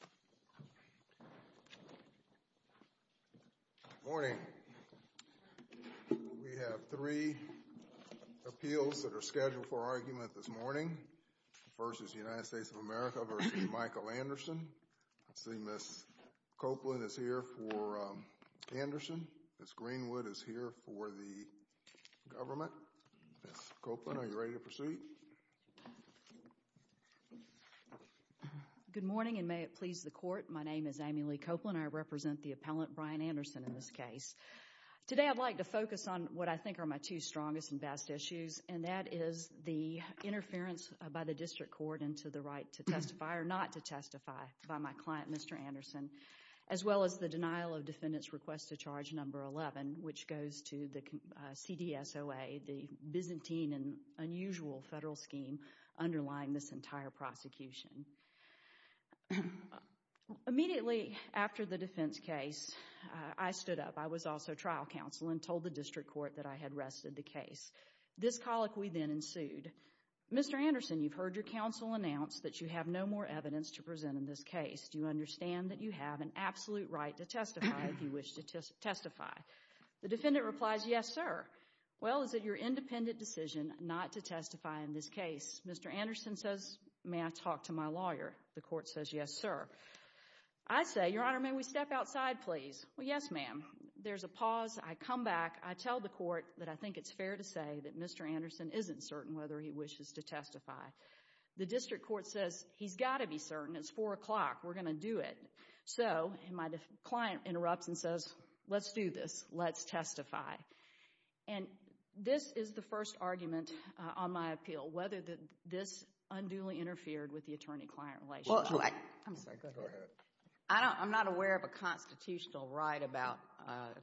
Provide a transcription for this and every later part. I see Ms. Copeland is here for Anderson. Ms. Greenwood is here for the government. Ms. Copeland, are you ready to proceed? Good morning and may it please the court. My name is Amy Lee Copeland. I represent the appellant Brian Anderson in this case. Today I'd like to focus on what I think are my two strongest and best issues and that is the interference by the district court into the right to testify or not to testify by my client, Mr. Anderson, as well as the denial of defendant's request to charge number 11, which goes to the CDSOA, the Byzantine and unusual federal scheme underlying this entire prosecution. Immediately after the defense case, I stood up. I was also trial counsel and told the district court that I had rested the case. This colloquy then ensued. Mr. Anderson, you've heard your counsel announce that you have no more evidence to present in this case. Do you understand that you have an absolute right to testify if you wish to testify? The defendant replies, yes, sir. Well, is it your independent decision not to testify in this case? Mr. Anderson says, may I talk to my lawyer? The court says, yes, sir. I say, Your Honor, may we step outside, please? Well, yes, ma'am. There's a pause. I come back. I tell the court that I think it's fair to say that Mr. Anderson isn't certain whether he wishes to testify. The district court says he's got to be certain. It's 4 o'clock. We're going to do it. So, my client interrupts and says, let's do this. Let's testify. And this is the first argument on my appeal, whether this unduly interfered with the attorney-client relationship. I'm not aware of a constitutional right about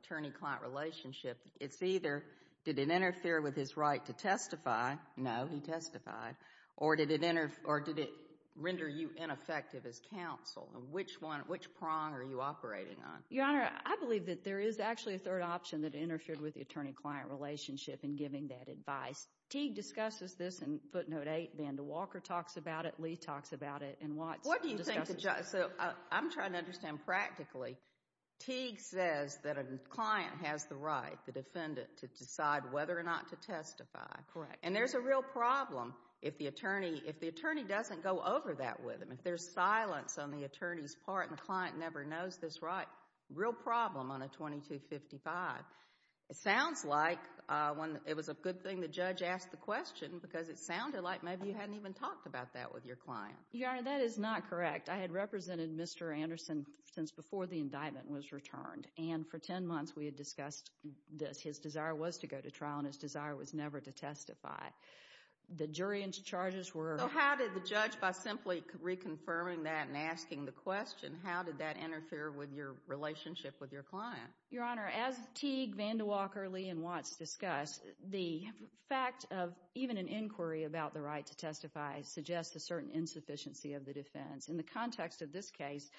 attorney-client relationship. It's either, did it interfere with his right to testify? No, he testified. Or did it render you ineffective as counsel? Which prong are you operating on? Your Honor, I believe that there is actually a third option that interfered with the attorney-client relationship in giving that advice. Teague discusses this in footnote 8. Vanda Walker talks about it. Lee talks about it. And Watts discusses it. What do you think? So, I'm trying to understand practically. Teague says that a client has the right, the right to testify. Correct. And there's a real problem if the attorney, if the attorney doesn't go over that with him. If there's silence on the attorney's part and the client never knows this right, real problem on a 2255. It sounds like when it was a good thing the judge asked the question because it sounded like maybe you hadn't even talked about that with your client. Your Honor, that is not correct. I had represented Mr. Anderson since before the indictment was returned. And for 10 months, we had discussed this. His desire was to go to trial and his desire was never to testify. The jury and charges were. So, how did the judge, by simply reconfirming that and asking the question, how did that interfere with your relationship with your client? Your Honor, as Teague, Vanda Walker, Lee and Watts discuss, the fact of even an inquiry about the right to testify suggests a certain insufficiency of the defense. In the context of this case,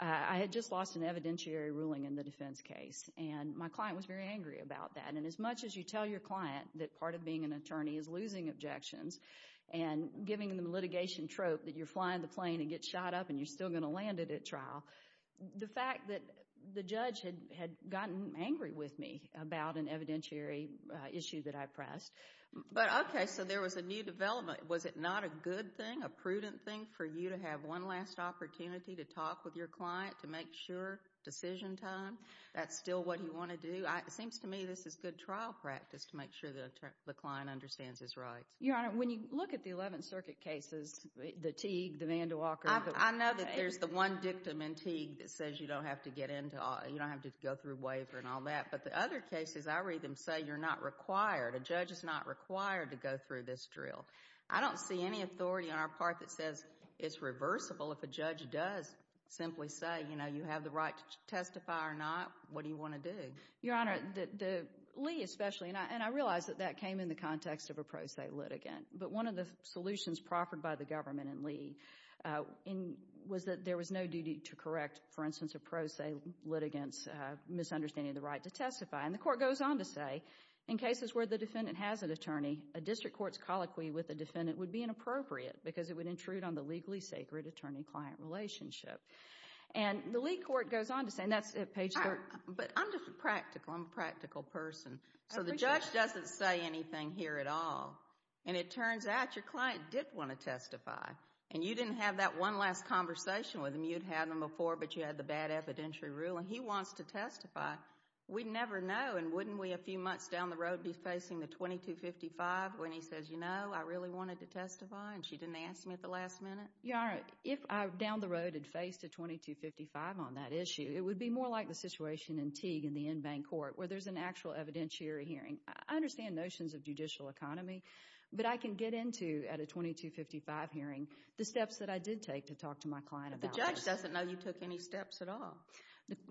I had just lost an evidentiary ruling in the defense case. And my client was very angry about that. And as much as you tell your client that part of being an attorney is losing objections and giving them a litigation trope that you're flying the plane and get shot up and you're still going to land it at trial, the fact that the judge had gotten angry with me about an evidentiary issue that I pressed. But, okay, so there was a new development. Was it not a good thing, a prudent thing for you to have one last opportunity to talk with your client to make sure, decision time, that's still what you want to do? It seems to me this is good trial practice to make sure that the client understands his rights. Your Honor, when you look at the Eleventh Circuit cases, the Teague, the Vanda Walker. I know that there's the one dictum in Teague that says you don't have to get into, you don't have to go through a waiver and all that. But the other cases I read them say you're not required, a judge is not required to go through this drill. I don't see any authority on our part that says it's reversible if a judge does simply say, you know, you have the right to testify or not. What do you want to do? Your Honor, Lee especially, and I realize that that came in the context of a pro se litigant. But one of the solutions proffered by the government in Lee was that there was no duty to correct, for instance, a pro se litigant's misunderstanding of the right to testify. And the court goes on to say, in cases where the defendant has an attorney, a district court's colloquy with the defendant would be inappropriate because it would intrude on the legally sacred attorney-client relationship. And the Lee court goes on to say, and that's at page 3. But I'm just a practical, I'm a practical person. So the judge doesn't say anything here at all. And it turns out your client did want to testify. And you didn't have that one last conversation with him. You'd had them before, but you had the bad evidentiary ruling. He wants to testify. We'd never know and wouldn't we a few months down the road be facing the 2255 when he says, you know, I really wanted to testify and she didn't ask me at the last minute? Your Honor, if I, down the road, had faced a 2255 on that issue, it would be more like the situation in Teague in the in-bank court where there's an actual evidentiary hearing. I understand notions of judicial economy, but I can get into, at a 2255 hearing, the steps that I did take to talk to my client about that. But the judge doesn't know you took any steps at all.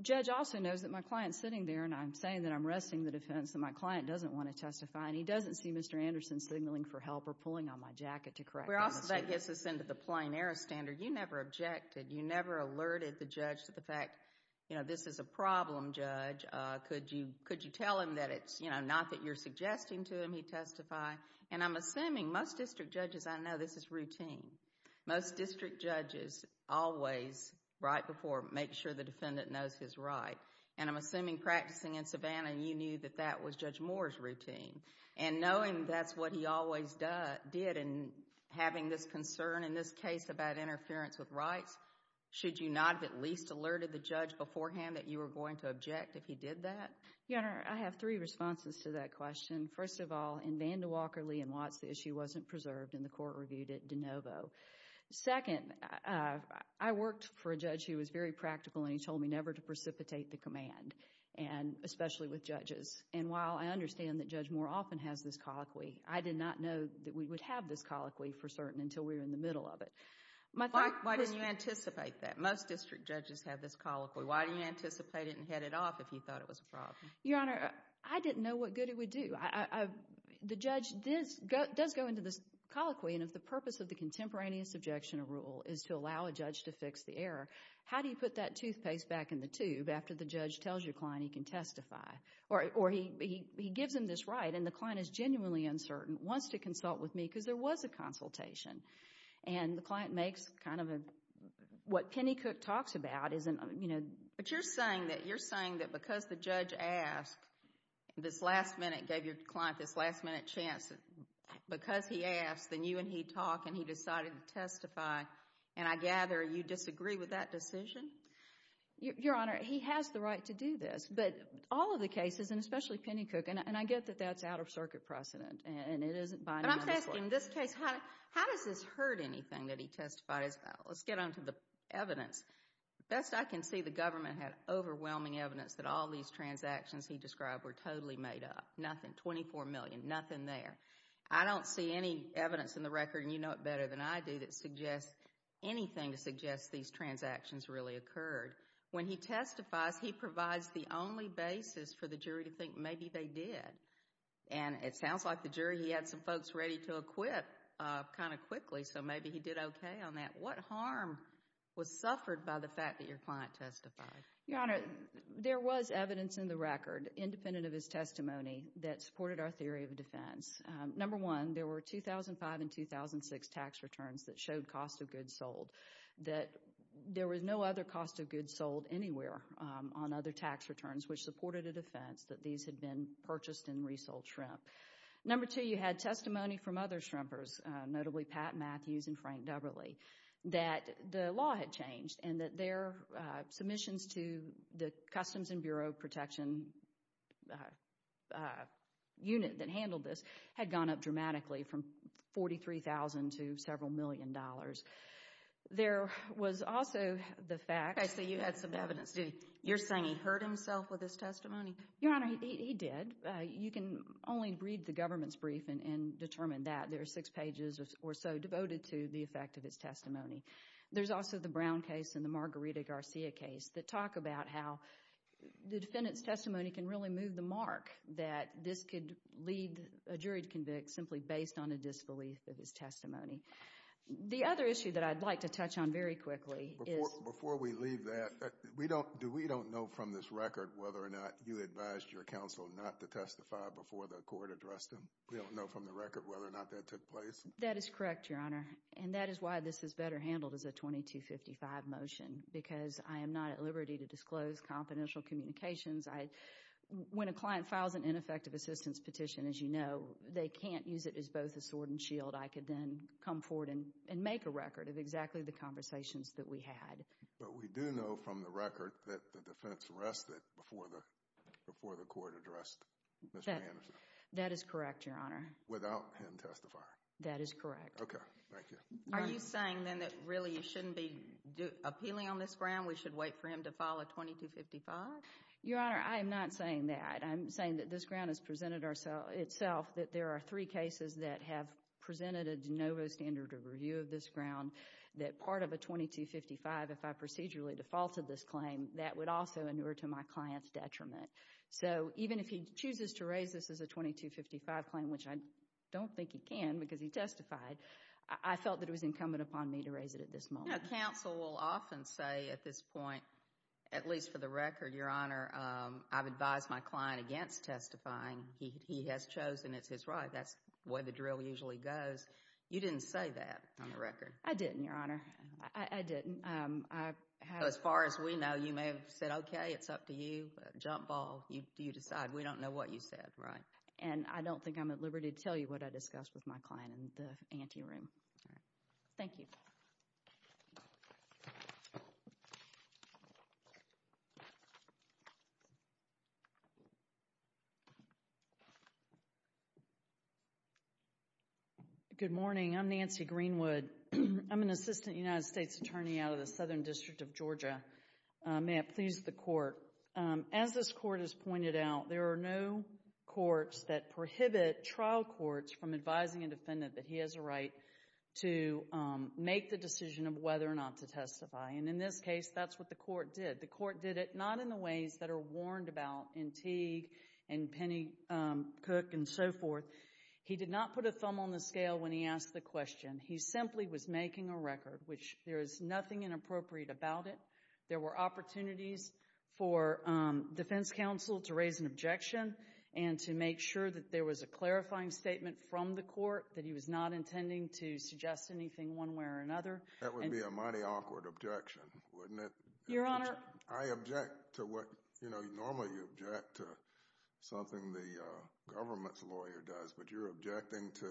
Judge also knows that my client's sitting there and I'm saying that I'm wresting the defense that my client doesn't want to testify and he doesn't see Mr. Anderson signaling for help or pulling on my jacket to correct the misunderstanding. We're also, that gets us into the plain error standard. You never objected. You never alerted the judge to the fact, you know, this is a problem, Judge. Could you tell him that it's, you know, not that you're suggesting to him he testify? And I'm assuming most district judges, I know this is routine. Most district judges always, right before, make sure the defendant knows his right. And I'm assuming practicing in Savannah, you knew that that was Judge Moore's routine. And knowing that's what he always did and having this concern in this case about interference with rights, should you not have at least alerted the judge beforehand that you were going to object if he did that? Your Honor, I have three responses to that question. First of all, in Vandewalker, Lee and Watts, the issue wasn't preserved and the court reviewed it de novo. Second, I worked for a judge who was very practical and he told me never to precipitate the command, especially with judges. And while I understand that Judge Moore often has this colloquy, I did not know that we would have this colloquy for certain until we were in the middle of it. Why didn't you anticipate that? Most district judges have this colloquy. Why didn't you anticipate it and head it off if you thought it was a problem? Your Honor, I didn't know what good it would do. The judge does go into this colloquy and if the purpose of the contemporaneous objection of rule is to allow a judge to fix the error, how do you put that toothpaste back in the tube after the judge tells your client he can testify? Or he gives him this right and the client is genuinely uncertain, wants to consult with me because there was a consultation. And the client makes kind of a... what Penny Cook talks about is... But you're saying that because the judge asked, this last minute, gave your client this last minute chance, because he asked, then you and he talk and he decided to testify. And I gather you disagree with that decision? Your Honor, he has the right to do this. But all of the cases, and especially Penny Cook, and I get that that's out of circuit precedent and it isn't by... But I'm just asking, in this case, how does this hurt anything that he testified as... let's get on to the evidence. Best I can see, the government had overwhelming evidence that all these transactions he described were totally made up. Nothing. Twenty-four million. Nothing there. I don't see any evidence in the record, and you know it better than I do, that suggests anything to suggest these transactions really occurred. When he testifies, he provides the only basis for the jury to think maybe they did. And it sounds like the jury, he had some folks ready to acquit kind of quickly, so maybe he did okay on that. What harm was suffered by the fact that your client testified? Your Honor, there was evidence in the record, independent of his testimony, that supported our theory of defense. Number one, there were 2005 and 2006 tax returns that showed cost of goods sold. That there was no other cost of goods sold anywhere on other tax returns which supported a defense that these had been purchased and resold shrimp. Number two, you had testimony from other shrimpers, notably Pat Matthews and Frank Deverly, that the law had changed and that their submissions to the Customs and Bureau of Protection unit that handled this had gone up dramatically from $43,000 to several million dollars. There was also the fact— I see you had some evidence. You're saying he hurt himself with his testimony? Your Honor, he did. You can only read the government's brief and determine that. There are six pages or so devoted to the effect of his testimony. There's also the Brown case and the Margarita Garcia case that talk about how the defendant's testimony can really move the mark that this could lead a jury to convict simply based on a disbelief of his testimony. The other issue that I'd like to touch on very quickly is— Before we leave that, do we don't know from this record whether or not you advised your counsel not to testify before the court addressed him? We don't know from the record whether or not that took place? That is correct, Your Honor, and that is why this is better handled as a 2255 motion because I am not at liberty to disclose confidential communications. When a client files an ineffective assistance petition, as you know, they can't use it as both a sword and shield. I could then come forward and make a record of exactly the conversations that we had. But we do know from the record that the defense arrested before the court addressed Mr. Anderson? That is correct, Your Honor. Without him testifying? That is correct. Okay. Thank you. Are you saying then that really you shouldn't be appealing on this ground? We should wait for him to file a 2255? Your Honor, I am not saying that. I'm saying that this ground has presented itself that there are three cases that have presented a de novo standard of review of this ground that part of a 2255, if I procedurally defaulted this claim, that would also inure to my client's detriment. So even if he chooses to raise this as a 2255 claim, which I don't think he can because he testified, I felt that it was incumbent upon me to raise it at this moment. You know, counsel will often say at this point, at least for the record, Your Honor, I've advised my client against testifying. He has chosen. It's his right. That's the way the drill usually goes. You didn't say that on the record. I didn't, Your Honor. I didn't. As far as we know, you may have said, okay, it's up to you. Jump ball. You decide. We don't know what you said, right? And I don't think I'm at liberty to tell you what I discussed with my client in the ante room. All right. Thank you. Good morning. I'm Nancy Greenwood. I'm an assistant United States attorney out of the Southern District of Georgia. May it please the Court, as this Court has pointed out, there are no courts that prohibit trial courts from advising a defendant that he has a right to make the decision of whether or not to testify. And in this case, that's what the Court did. The Court did it not in the ways that are warned about in Teague and Penny Cook and so forth. He did not put a thumb on the scale when he asked the question. He simply was making a record, which there is nothing inappropriate about it. There were opportunities for defense counsel to raise an objection and to make sure that there was a clarifying statement from the Court that he was not intending to suggest anything one way or another. That would be a mighty awkward objection, wouldn't it? Your Honor. I object to what, you know, normally you object to something the government's lawyer does, but you're objecting to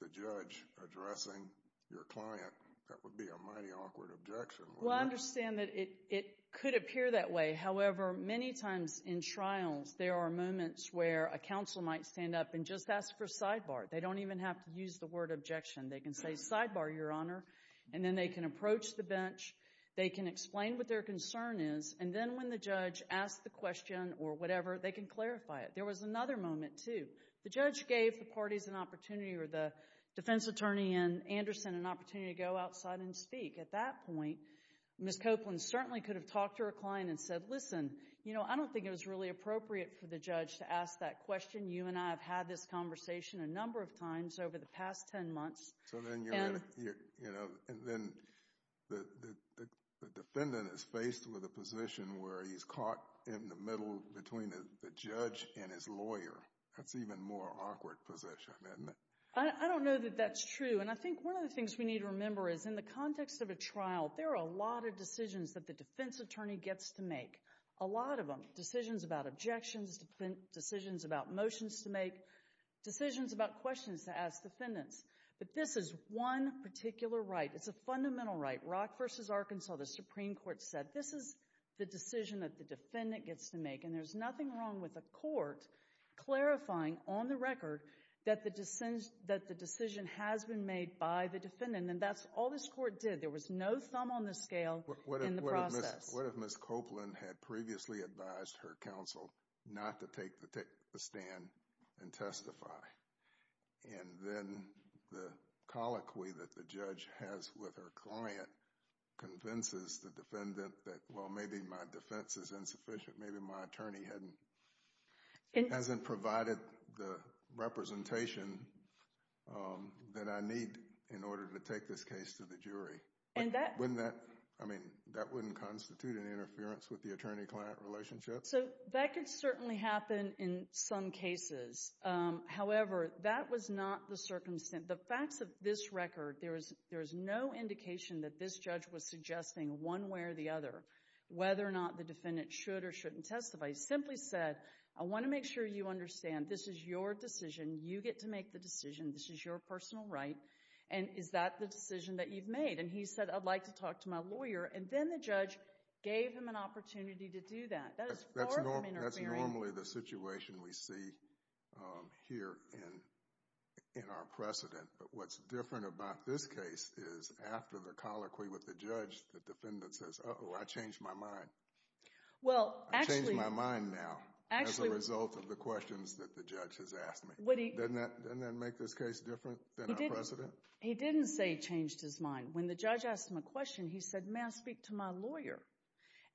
the judge addressing your client. That would be a mighty awkward objection, wouldn't it? Well, I understand that it could appear that way. However, many times in trials, there are moments where a counsel might stand up and just ask for sidebar. They don't even have to use the word objection. They can say sidebar, Your Honor, and then they can approach the bench. They can explain what their concern is, and then when the judge asks the question or whatever, they can clarify it. There was another moment, too. The judge gave the parties an opportunity or the defense attorney and Anderson an opportunity to go outside and speak. At that point, Ms. Copeland certainly could have talked to her client and said, listen, you know, I don't think it was really appropriate for the judge to ask that question. You and I have had this conversation a number of times over the past 10 months. So then you're in a, you know, and then the defendant is faced with a position where he's caught in the middle between the judge and his lawyer. That's an even more awkward position, isn't it? I don't know that that's true, and I think one of the things we need to remember is in the context of a trial, there are a lot of decisions that the defense attorney gets to make, a lot of them, decisions about objections, decisions about motions to make, decisions about questions to ask defendants, but this is one particular right. It's a fundamental right. Rock v. Arkansas, the Supreme Court said, this is the decision that the defendant gets to make, and there's nothing wrong with a court clarifying on the record that the decision has been made by the defendant, and that's all this court did. There was no thumb on the scale in the process. What if Ms. Copeland had previously advised her counsel not to take the stand and testify, and then the colloquy that the judge has with her client convinces the defendant that, well, maybe my defense is insufficient, maybe my attorney hasn't provided the representation that I need in order to take this case to the jury. Wouldn't that, I mean, that wouldn't constitute an interference with the attorney-client relationship? So that could certainly happen in some cases. However, that was not the circumstance, the facts of this record, there is no indication that this judge was suggesting one way or the other whether or not the defendant should or shouldn't testify. He simply said, I want to make sure you understand this is your decision. You get to make the decision. This is your personal right, and is that the decision that you've made? And he said, I'd like to talk to my lawyer, and then the judge gave him an opportunity to do that. That is far from interfering. That's normally the situation we see here in our precedent, but what's different about this case is after the colloquy with the judge, the defendant says, uh-oh, I changed my mind. I changed my mind now as a result of the questions that the judge has asked me. Doesn't that make this case different than our precedent? He didn't say he changed his mind. When the judge asked him a question, he said, may I speak to my lawyer?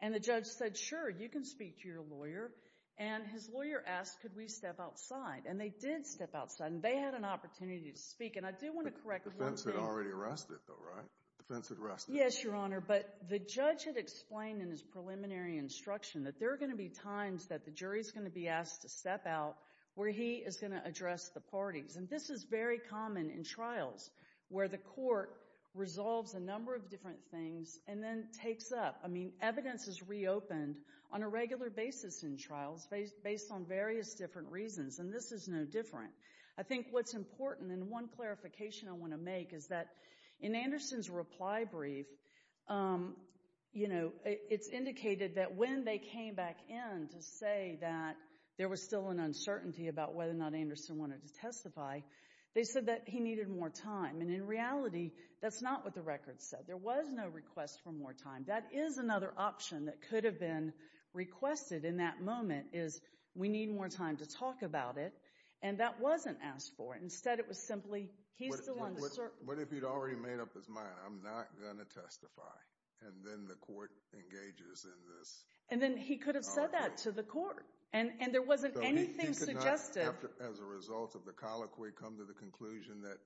And the judge said, sure, you can speak to your lawyer, and his lawyer asked, could we step outside? And they did step outside, and they had an opportunity to speak, and I do want to correct the wording. The defense had already arrested, though, right? The defense had arrested. Yes, Your Honor, but the judge had explained in his preliminary instruction that there parties. And this is very common in trials where the court resolves a number of different things and then takes up, I mean, evidence is reopened on a regular basis in trials based on various different reasons, and this is no different. I think what's important, and one clarification I want to make is that in Anderson's reply brief, you know, it's indicated that when they came back in to say that there was still an uncertainty about whether or not Anderson wanted to testify, they said that he needed more time. And in reality, that's not what the record said. There was no request for more time. That is another option that could have been requested in that moment, is we need more time to talk about it, and that wasn't asked for. Instead, it was simply, he's still on the circuit. What if he'd already made up his mind, I'm not going to testify, and then the court engages in this? And then he could have said that to the court. And there wasn't anything suggestive. So he could not, as a result of the colloquy, come to the conclusion that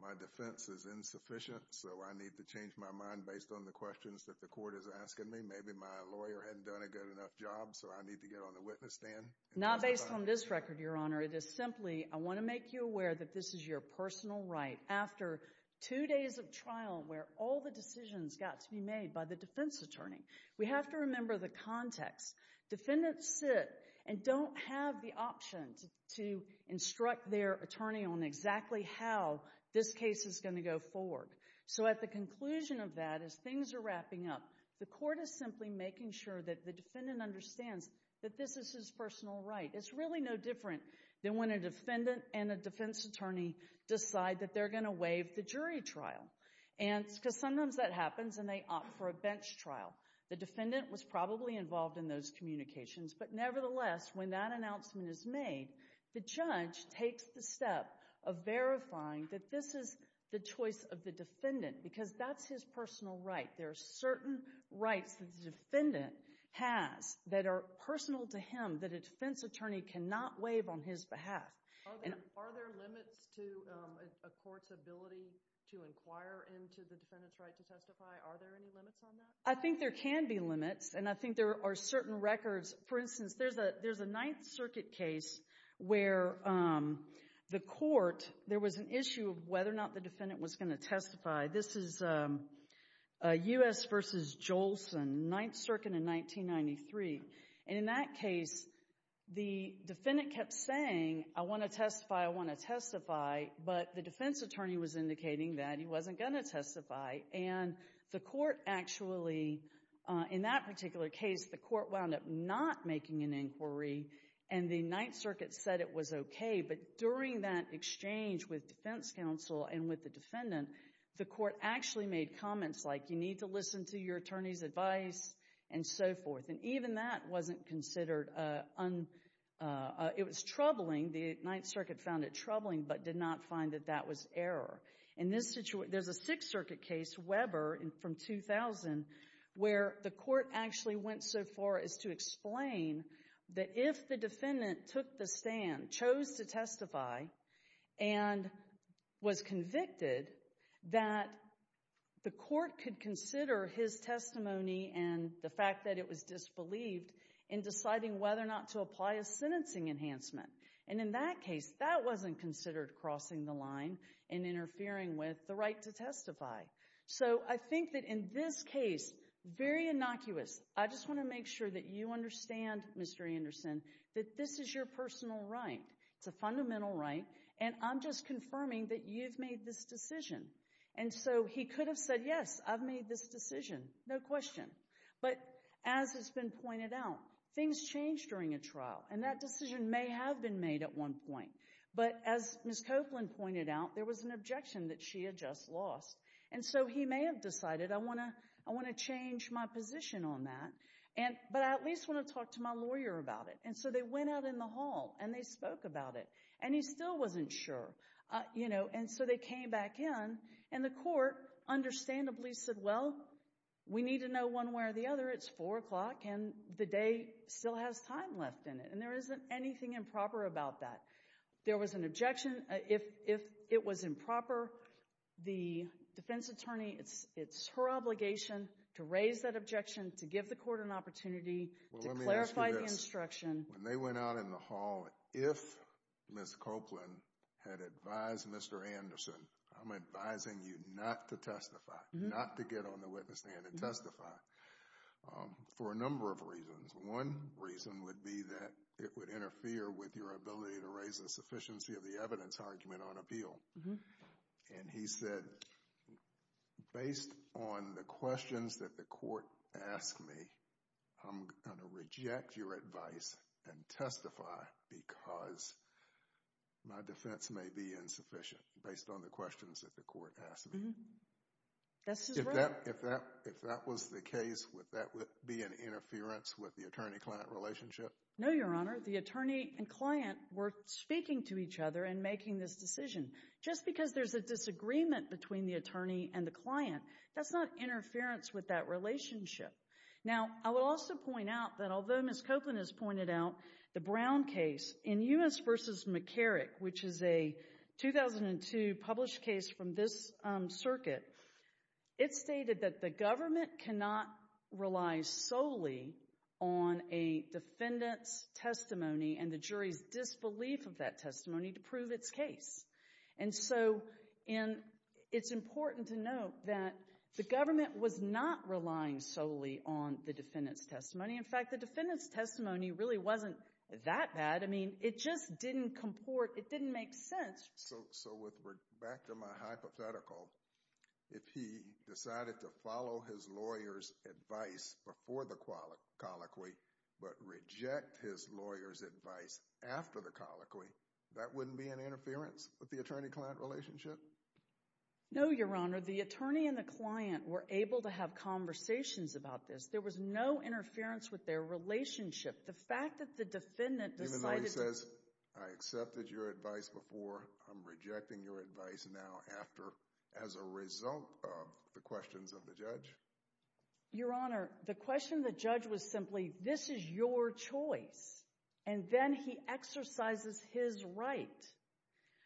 my defense is insufficient, so I need to change my mind based on the questions that the court is asking me. Maybe my lawyer hadn't done a good enough job, so I need to get on the witness stand? Not based on this record, Your Honor. It is simply, I want to make you aware that this is your personal right. After two days of trial where all the decisions got to be made by the defense attorney, we the defendant sit, and don't have the option to instruct their attorney on exactly how this case is going to go forward. So at the conclusion of that, as things are wrapping up, the court is simply making sure that the defendant understands that this is his personal right. It's really no different than when a defendant and a defense attorney decide that they're going to waive the jury trial, because sometimes that happens and they opt for a bench trial. The defendant was probably involved in those communications, but nevertheless, when that announcement is made, the judge takes the step of verifying that this is the choice of the defendant, because that's his personal right. There are certain rights that the defendant has that are personal to him that a defense attorney cannot waive on his behalf. Are there limits to a court's ability to inquire into the defendant's right to testify? Are there any limits on that? I think there can be limits, and I think there are certain records. For instance, there's a Ninth Circuit case where the court, there was an issue of whether or not the defendant was going to testify. This is U.S. v. Jolson, Ninth Circuit in 1993. In that case, the defendant kept saying, I want to testify, I want to testify, but the the court actually, in that particular case, the court wound up not making an inquiry, and the Ninth Circuit said it was okay, but during that exchange with defense counsel and with the defendant, the court actually made comments like, you need to listen to your attorney's advice, and so forth. Even that wasn't considered, it was troubling. The Ninth Circuit found it troubling, but did not find that that was error. In this situation, there's a Sixth Circuit case, Weber, from 2000, where the court actually went so far as to explain that if the defendant took the stand, chose to testify, and was convicted, that the court could consider his testimony and the fact that it was disbelieved in deciding whether or not to apply a sentencing enhancement, and in that case, that wasn't considered crossing the line and interfering with the right to testify. So I think that in this case, very innocuous, I just want to make sure that you understand, Mr. Anderson, that this is your personal right. It's a fundamental right, and I'm just confirming that you've made this decision. And so he could have said, yes, I've made this decision, no question, but as has been pointed out, things change during a trial, and that decision may have been made at one point. But as Ms. Copeland pointed out, there was an objection that she had just lost. And so he may have decided, I want to change my position on that, but I at least want to talk to my lawyer about it. And so they went out in the hall, and they spoke about it, and he still wasn't sure. And so they came back in, and the court understandably said, well, we need to know one way or the other. It's 4 o'clock, and the day still has time left in it, and there isn't anything improper about that. There was an objection. If it was improper, the defense attorney, it's her obligation to raise that objection, to give the court an opportunity to clarify the instruction. Well, let me ask you this. When they went out in the hall, if Ms. Copeland had advised Mr. Anderson, I'm advising you not to testify, not to get on the witness stand and testify, for a number of reasons. One reason would be that it would interfere with your ability to raise a sufficiency of the evidence argument on appeal. And he said, based on the questions that the court asked me, I'm going to reject your advice and testify because my defense may be insufficient, based on the questions that the court asked me. That's just right. If that was the case, would that be an interference with the attorney-client relationship? No, Your Honor. The attorney and client were speaking to each other and making this decision. Just because there's a disagreement between the attorney and the client, that's not interference with that relationship. Now, I would also point out that although Ms. Copeland has pointed out the Brown case, in Ewen's versus McCarrick, which is a 2002 published case from this circuit, it stated that the government cannot rely solely on a defendant's testimony and the jury's disbelief of that testimony to prove its case. And so it's important to note that the government was not relying solely on the defendant's testimony. In fact, the defendant's testimony really wasn't that bad. I mean, it just didn't comport, it didn't make sense. So back to my hypothetical, if he decided to follow his lawyer's advice before the colloquy, but reject his lawyer's advice after the colloquy, that wouldn't be an interference with the attorney-client relationship? No, Your Honor. The attorney and the client were able to have conversations about this. There was no interference with their relationship. The fact that the defendant decided— Even though he says, I accepted your advice before, I'm rejecting your advice now after, as a result of the questions of the judge? Your Honor, the question of the judge was simply, this is your choice. And then he exercises his right.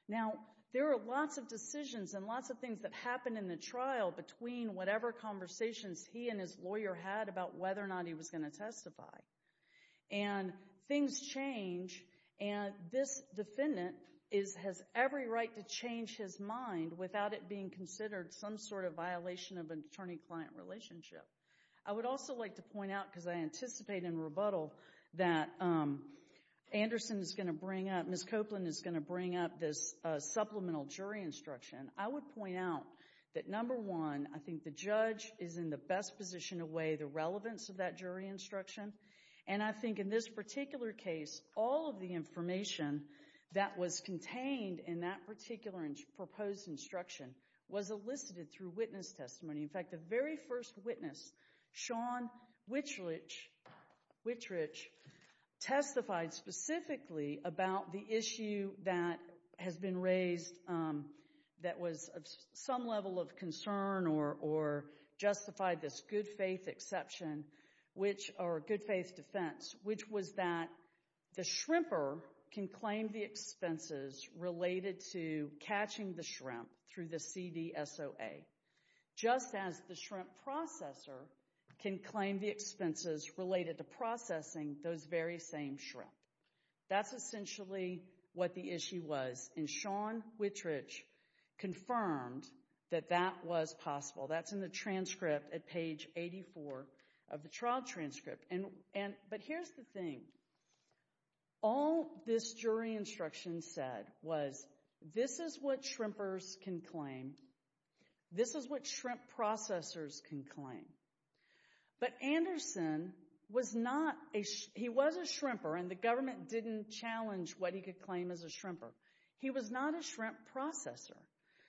Now, there are lots of decisions and lots of things that happened in the trial between whatever conversations he and his lawyer had about whether or not he was going to testify. And things change, and this defendant has every right to change his mind without it being considered some sort of violation of an attorney-client relationship. I would also like to point out, because I anticipate in rebuttal that Anderson is going to bring up, Ms. Copeland is going to bring up this supplemental jury instruction. I would point out that, number one, I think the judge is in the best position to weigh the relevance of that jury instruction. And I think in this particular case, all of the information that was contained in that particular proposed instruction was elicited through witness testimony. In fact, the very first witness, Sean Wittrich, testified specifically about the issue that was of some level of concern or justified this good-faith exception, or good-faith defense, which was that the shrimper can claim the expenses related to catching the shrimp through the CDSOA, just as the shrimp processor can claim the expenses related to processing those very same shrimp. That's essentially what the issue was. And Sean Wittrich confirmed that that was possible. That's in the transcript at page 84 of the trial transcript. But here's the thing. All this jury instruction said was, this is what shrimpers can claim. This is what shrimp processors can claim. But Anderson was not a—he was a shrimper, and the government didn't challenge what he could claim as a shrimper. He was not a shrimp processor.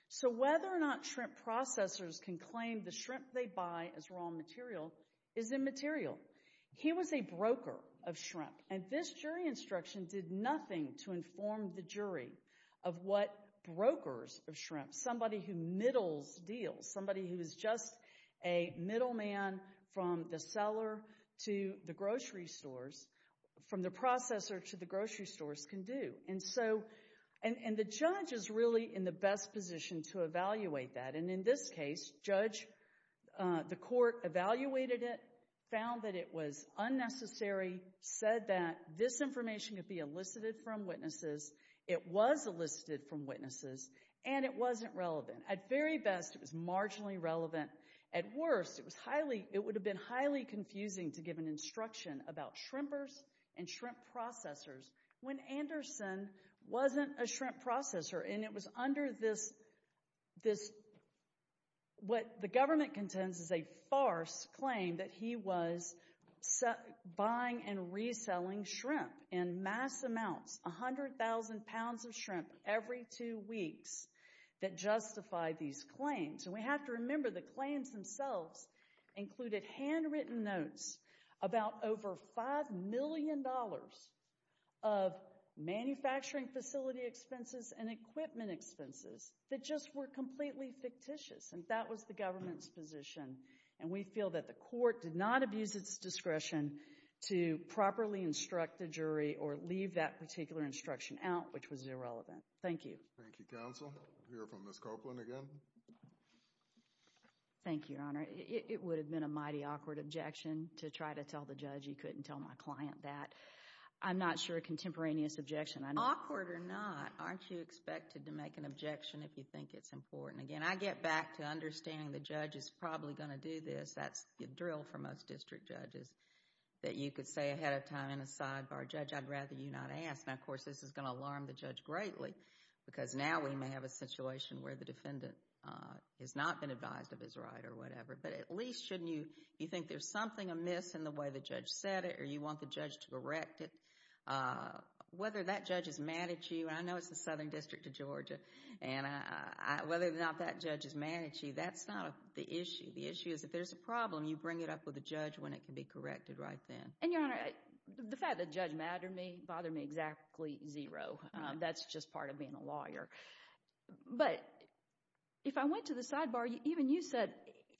So whether or not shrimp processors can claim the shrimp they buy as raw material is immaterial. He was a broker of shrimp, and this jury instruction did nothing to inform the jury of what brokers of shrimp—somebody who middles deals, somebody who is just a middleman from the seller to And so—and the judge is really in the best position to evaluate that. And in this case, the court evaluated it, found that it was unnecessary, said that this information could be elicited from witnesses. It was elicited from witnesses. And it wasn't relevant. At very best, it was marginally relevant. At worst, it would have been highly confusing to give an instruction about shrimpers and Anderson wasn't a shrimp processor. And it was under this—what the government contends is a farce claim that he was buying and reselling shrimp in mass amounts—100,000 pounds of shrimp every two weeks—that justified these claims. And we have to remember the claims themselves included handwritten notes about over $5 million of manufacturing facility expenses and equipment expenses that just were completely fictitious. And that was the government's position. And we feel that the court did not abuse its discretion to properly instruct the jury or leave that particular instruction out, which was irrelevant. Thank you. Thank you, counsel. We'll hear from Ms. Copeland again. Thank you, Your Honor. It would have been a mighty awkward objection to try to tell the judge. You couldn't tell my client that. I'm not sure a contemporaneous objection— Awkward or not, aren't you expected to make an objection if you think it's important? Again, I get back to understanding the judge is probably going to do this. That's the drill for most district judges, that you could say ahead of time in a sidebar, Judge, I'd rather you not ask. Now, of course, this is going to alarm the judge greatly because now we may have a situation where the defendant has not been advised of his right or whatever. But at least, shouldn't you—you think there's something amiss in the way the judge said it or you want the judge to correct it. Whether that judge is mad at you—and I know it's the Southern District of Georgia—and whether or not that judge is mad at you, that's not the issue. The issue is if there's a problem, you bring it up with the judge when it can be corrected right then. And, Your Honor, the fact that the judge mad at me bothered me exactly zero. That's just part of being a lawyer. But, if I went to the sidebar, even you said,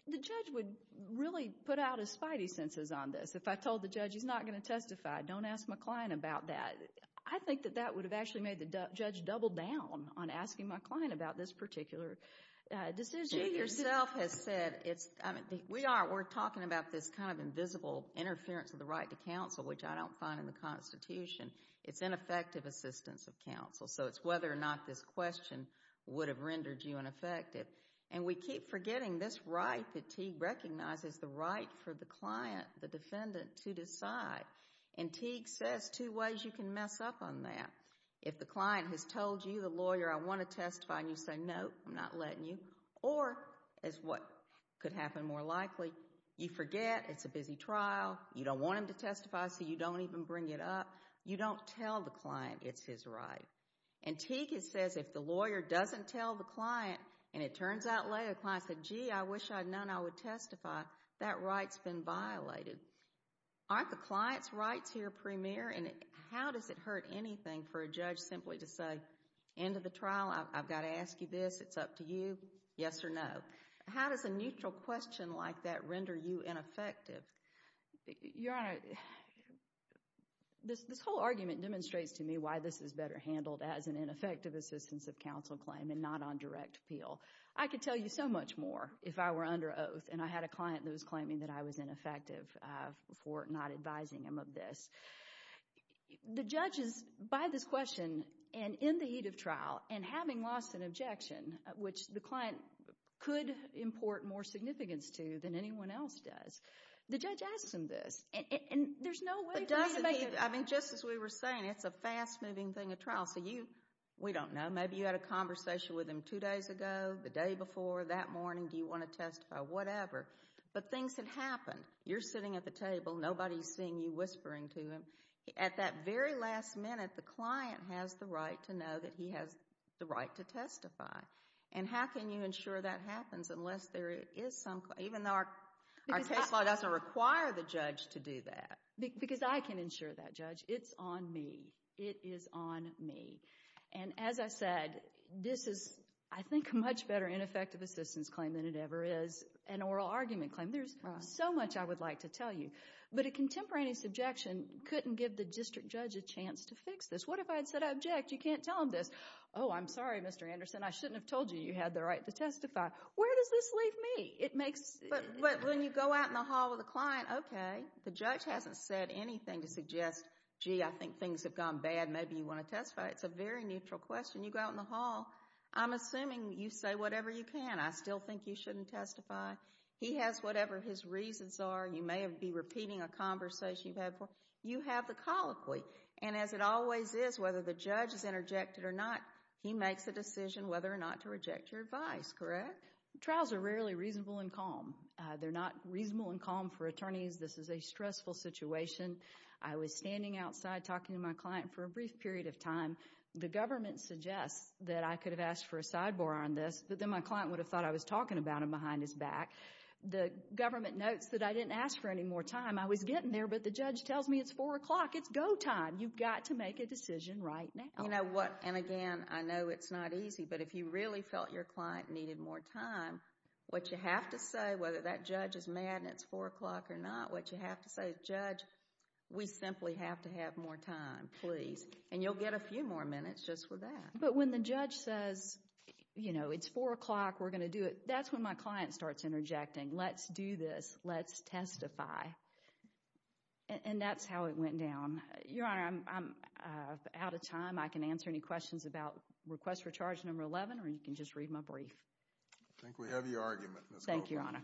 the judge would really put out his spidey senses on this. If I told the judge he's not going to testify, don't ask my client about that, I think that that would have actually made the judge double down on asking my client about this particular decision. You, yourself, have said, we're talking about this kind of invisible interference of the right to counsel, which I don't find in the Constitution. It's ineffective assistance of counsel. So, it's whether or not this question would have rendered you ineffective. And we keep forgetting this right that Teague recognizes, the right for the client, the defendant, to decide. And Teague says two ways you can mess up on that. If the client has told you, the lawyer, I want to testify, and you say, no, I'm not letting you, or, as what could happen more likely, you forget, it's a busy trial, you don't want him to testify, so you don't even bring it up, you don't tell the client it's his right. And Teague says, if the lawyer doesn't tell the client, and it turns out later, the client said, gee, I wish I'd known I would testify, that right's been violated. Aren't the client's rights here premier, and how does it hurt anything for a judge simply to say, end of the trial, I've got to ask you this, it's up to you, yes or no? How does a neutral question like that render you ineffective? Your Honor, this whole argument demonstrates to me why this is better handled as an ineffective assistance of counsel claim and not on direct appeal. I could tell you so much more if I were under oath and I had a client that was claiming that I was ineffective for not advising him of this. The judges, by this question, and in the heat of trial, and having lost an objection, which the client could import more significance to than anyone else does, the judge asks him this. And there's no way for me to make it... But doesn't he, I mean, just as we were saying, it's a fast-moving thing of trial, so you, we don't know, maybe you had a conversation with him two days ago, the day before, that morning, do you want to testify, whatever. But things had happened. You're sitting at the table, nobody's seeing you whispering to him. At that very last minute, the client has the right to know that he has the right to testify. And how can you ensure that happens unless there is some, even though our case law doesn't require the judge to do that? Because I can ensure that, Judge. It's on me. It is on me. And as I said, this is, I think, a much better ineffective assistance claim than it ever is an oral argument claim. There's so much I would like to tell you. But a contemporaneous objection couldn't give the district judge a chance to fix this. What if I had said, I object, you can't tell him this. Oh, I'm sorry, Mr. Anderson, I shouldn't have told you you had the right to testify. Where does this leave me? It makes, but when you go out in the hall with a client, okay, the judge hasn't said anything to suggest, gee, I think things have gone bad, maybe you want to testify. It's a very neutral question. You go out in the hall, I'm assuming you say whatever you can. I still think you shouldn't testify. He has whatever his reasons are. You may be repeating a conversation you've had before. You have the colloquy. And as it always is, whether the judge is interjected or not, he makes a decision whether or not to reject your advice, correct? Trials are rarely reasonable and calm. They're not reasonable and calm for attorneys. This is a stressful situation. I was standing outside talking to my client for a brief period of time. The government suggests that I could have asked for a sidebar on this, but then my client would have thought I was talking about him behind his back. The government notes that I didn't ask for any more time. I was getting there, but the judge tells me it's 4 o'clock, it's go time, you've got to make a decision right now. You know what, and again, I know it's not easy, but if you really felt your client needed more time, what you have to say, whether that judge is mad and it's 4 o'clock or not, what you have to say is, Judge, we simply have to have more time, please. And you'll get a few more minutes just with that. But when the judge says, you know, it's 4 o'clock, we're going to do it, that's when my client starts interjecting. Let's do this. Let's testify. And that's how it went down. Your Honor, I'm out of time. I can answer any questions about request for charge number 11, or you can just read my brief. I think we have your argument, Ms. Goldberg. Thank you, Your Honor. That's very good.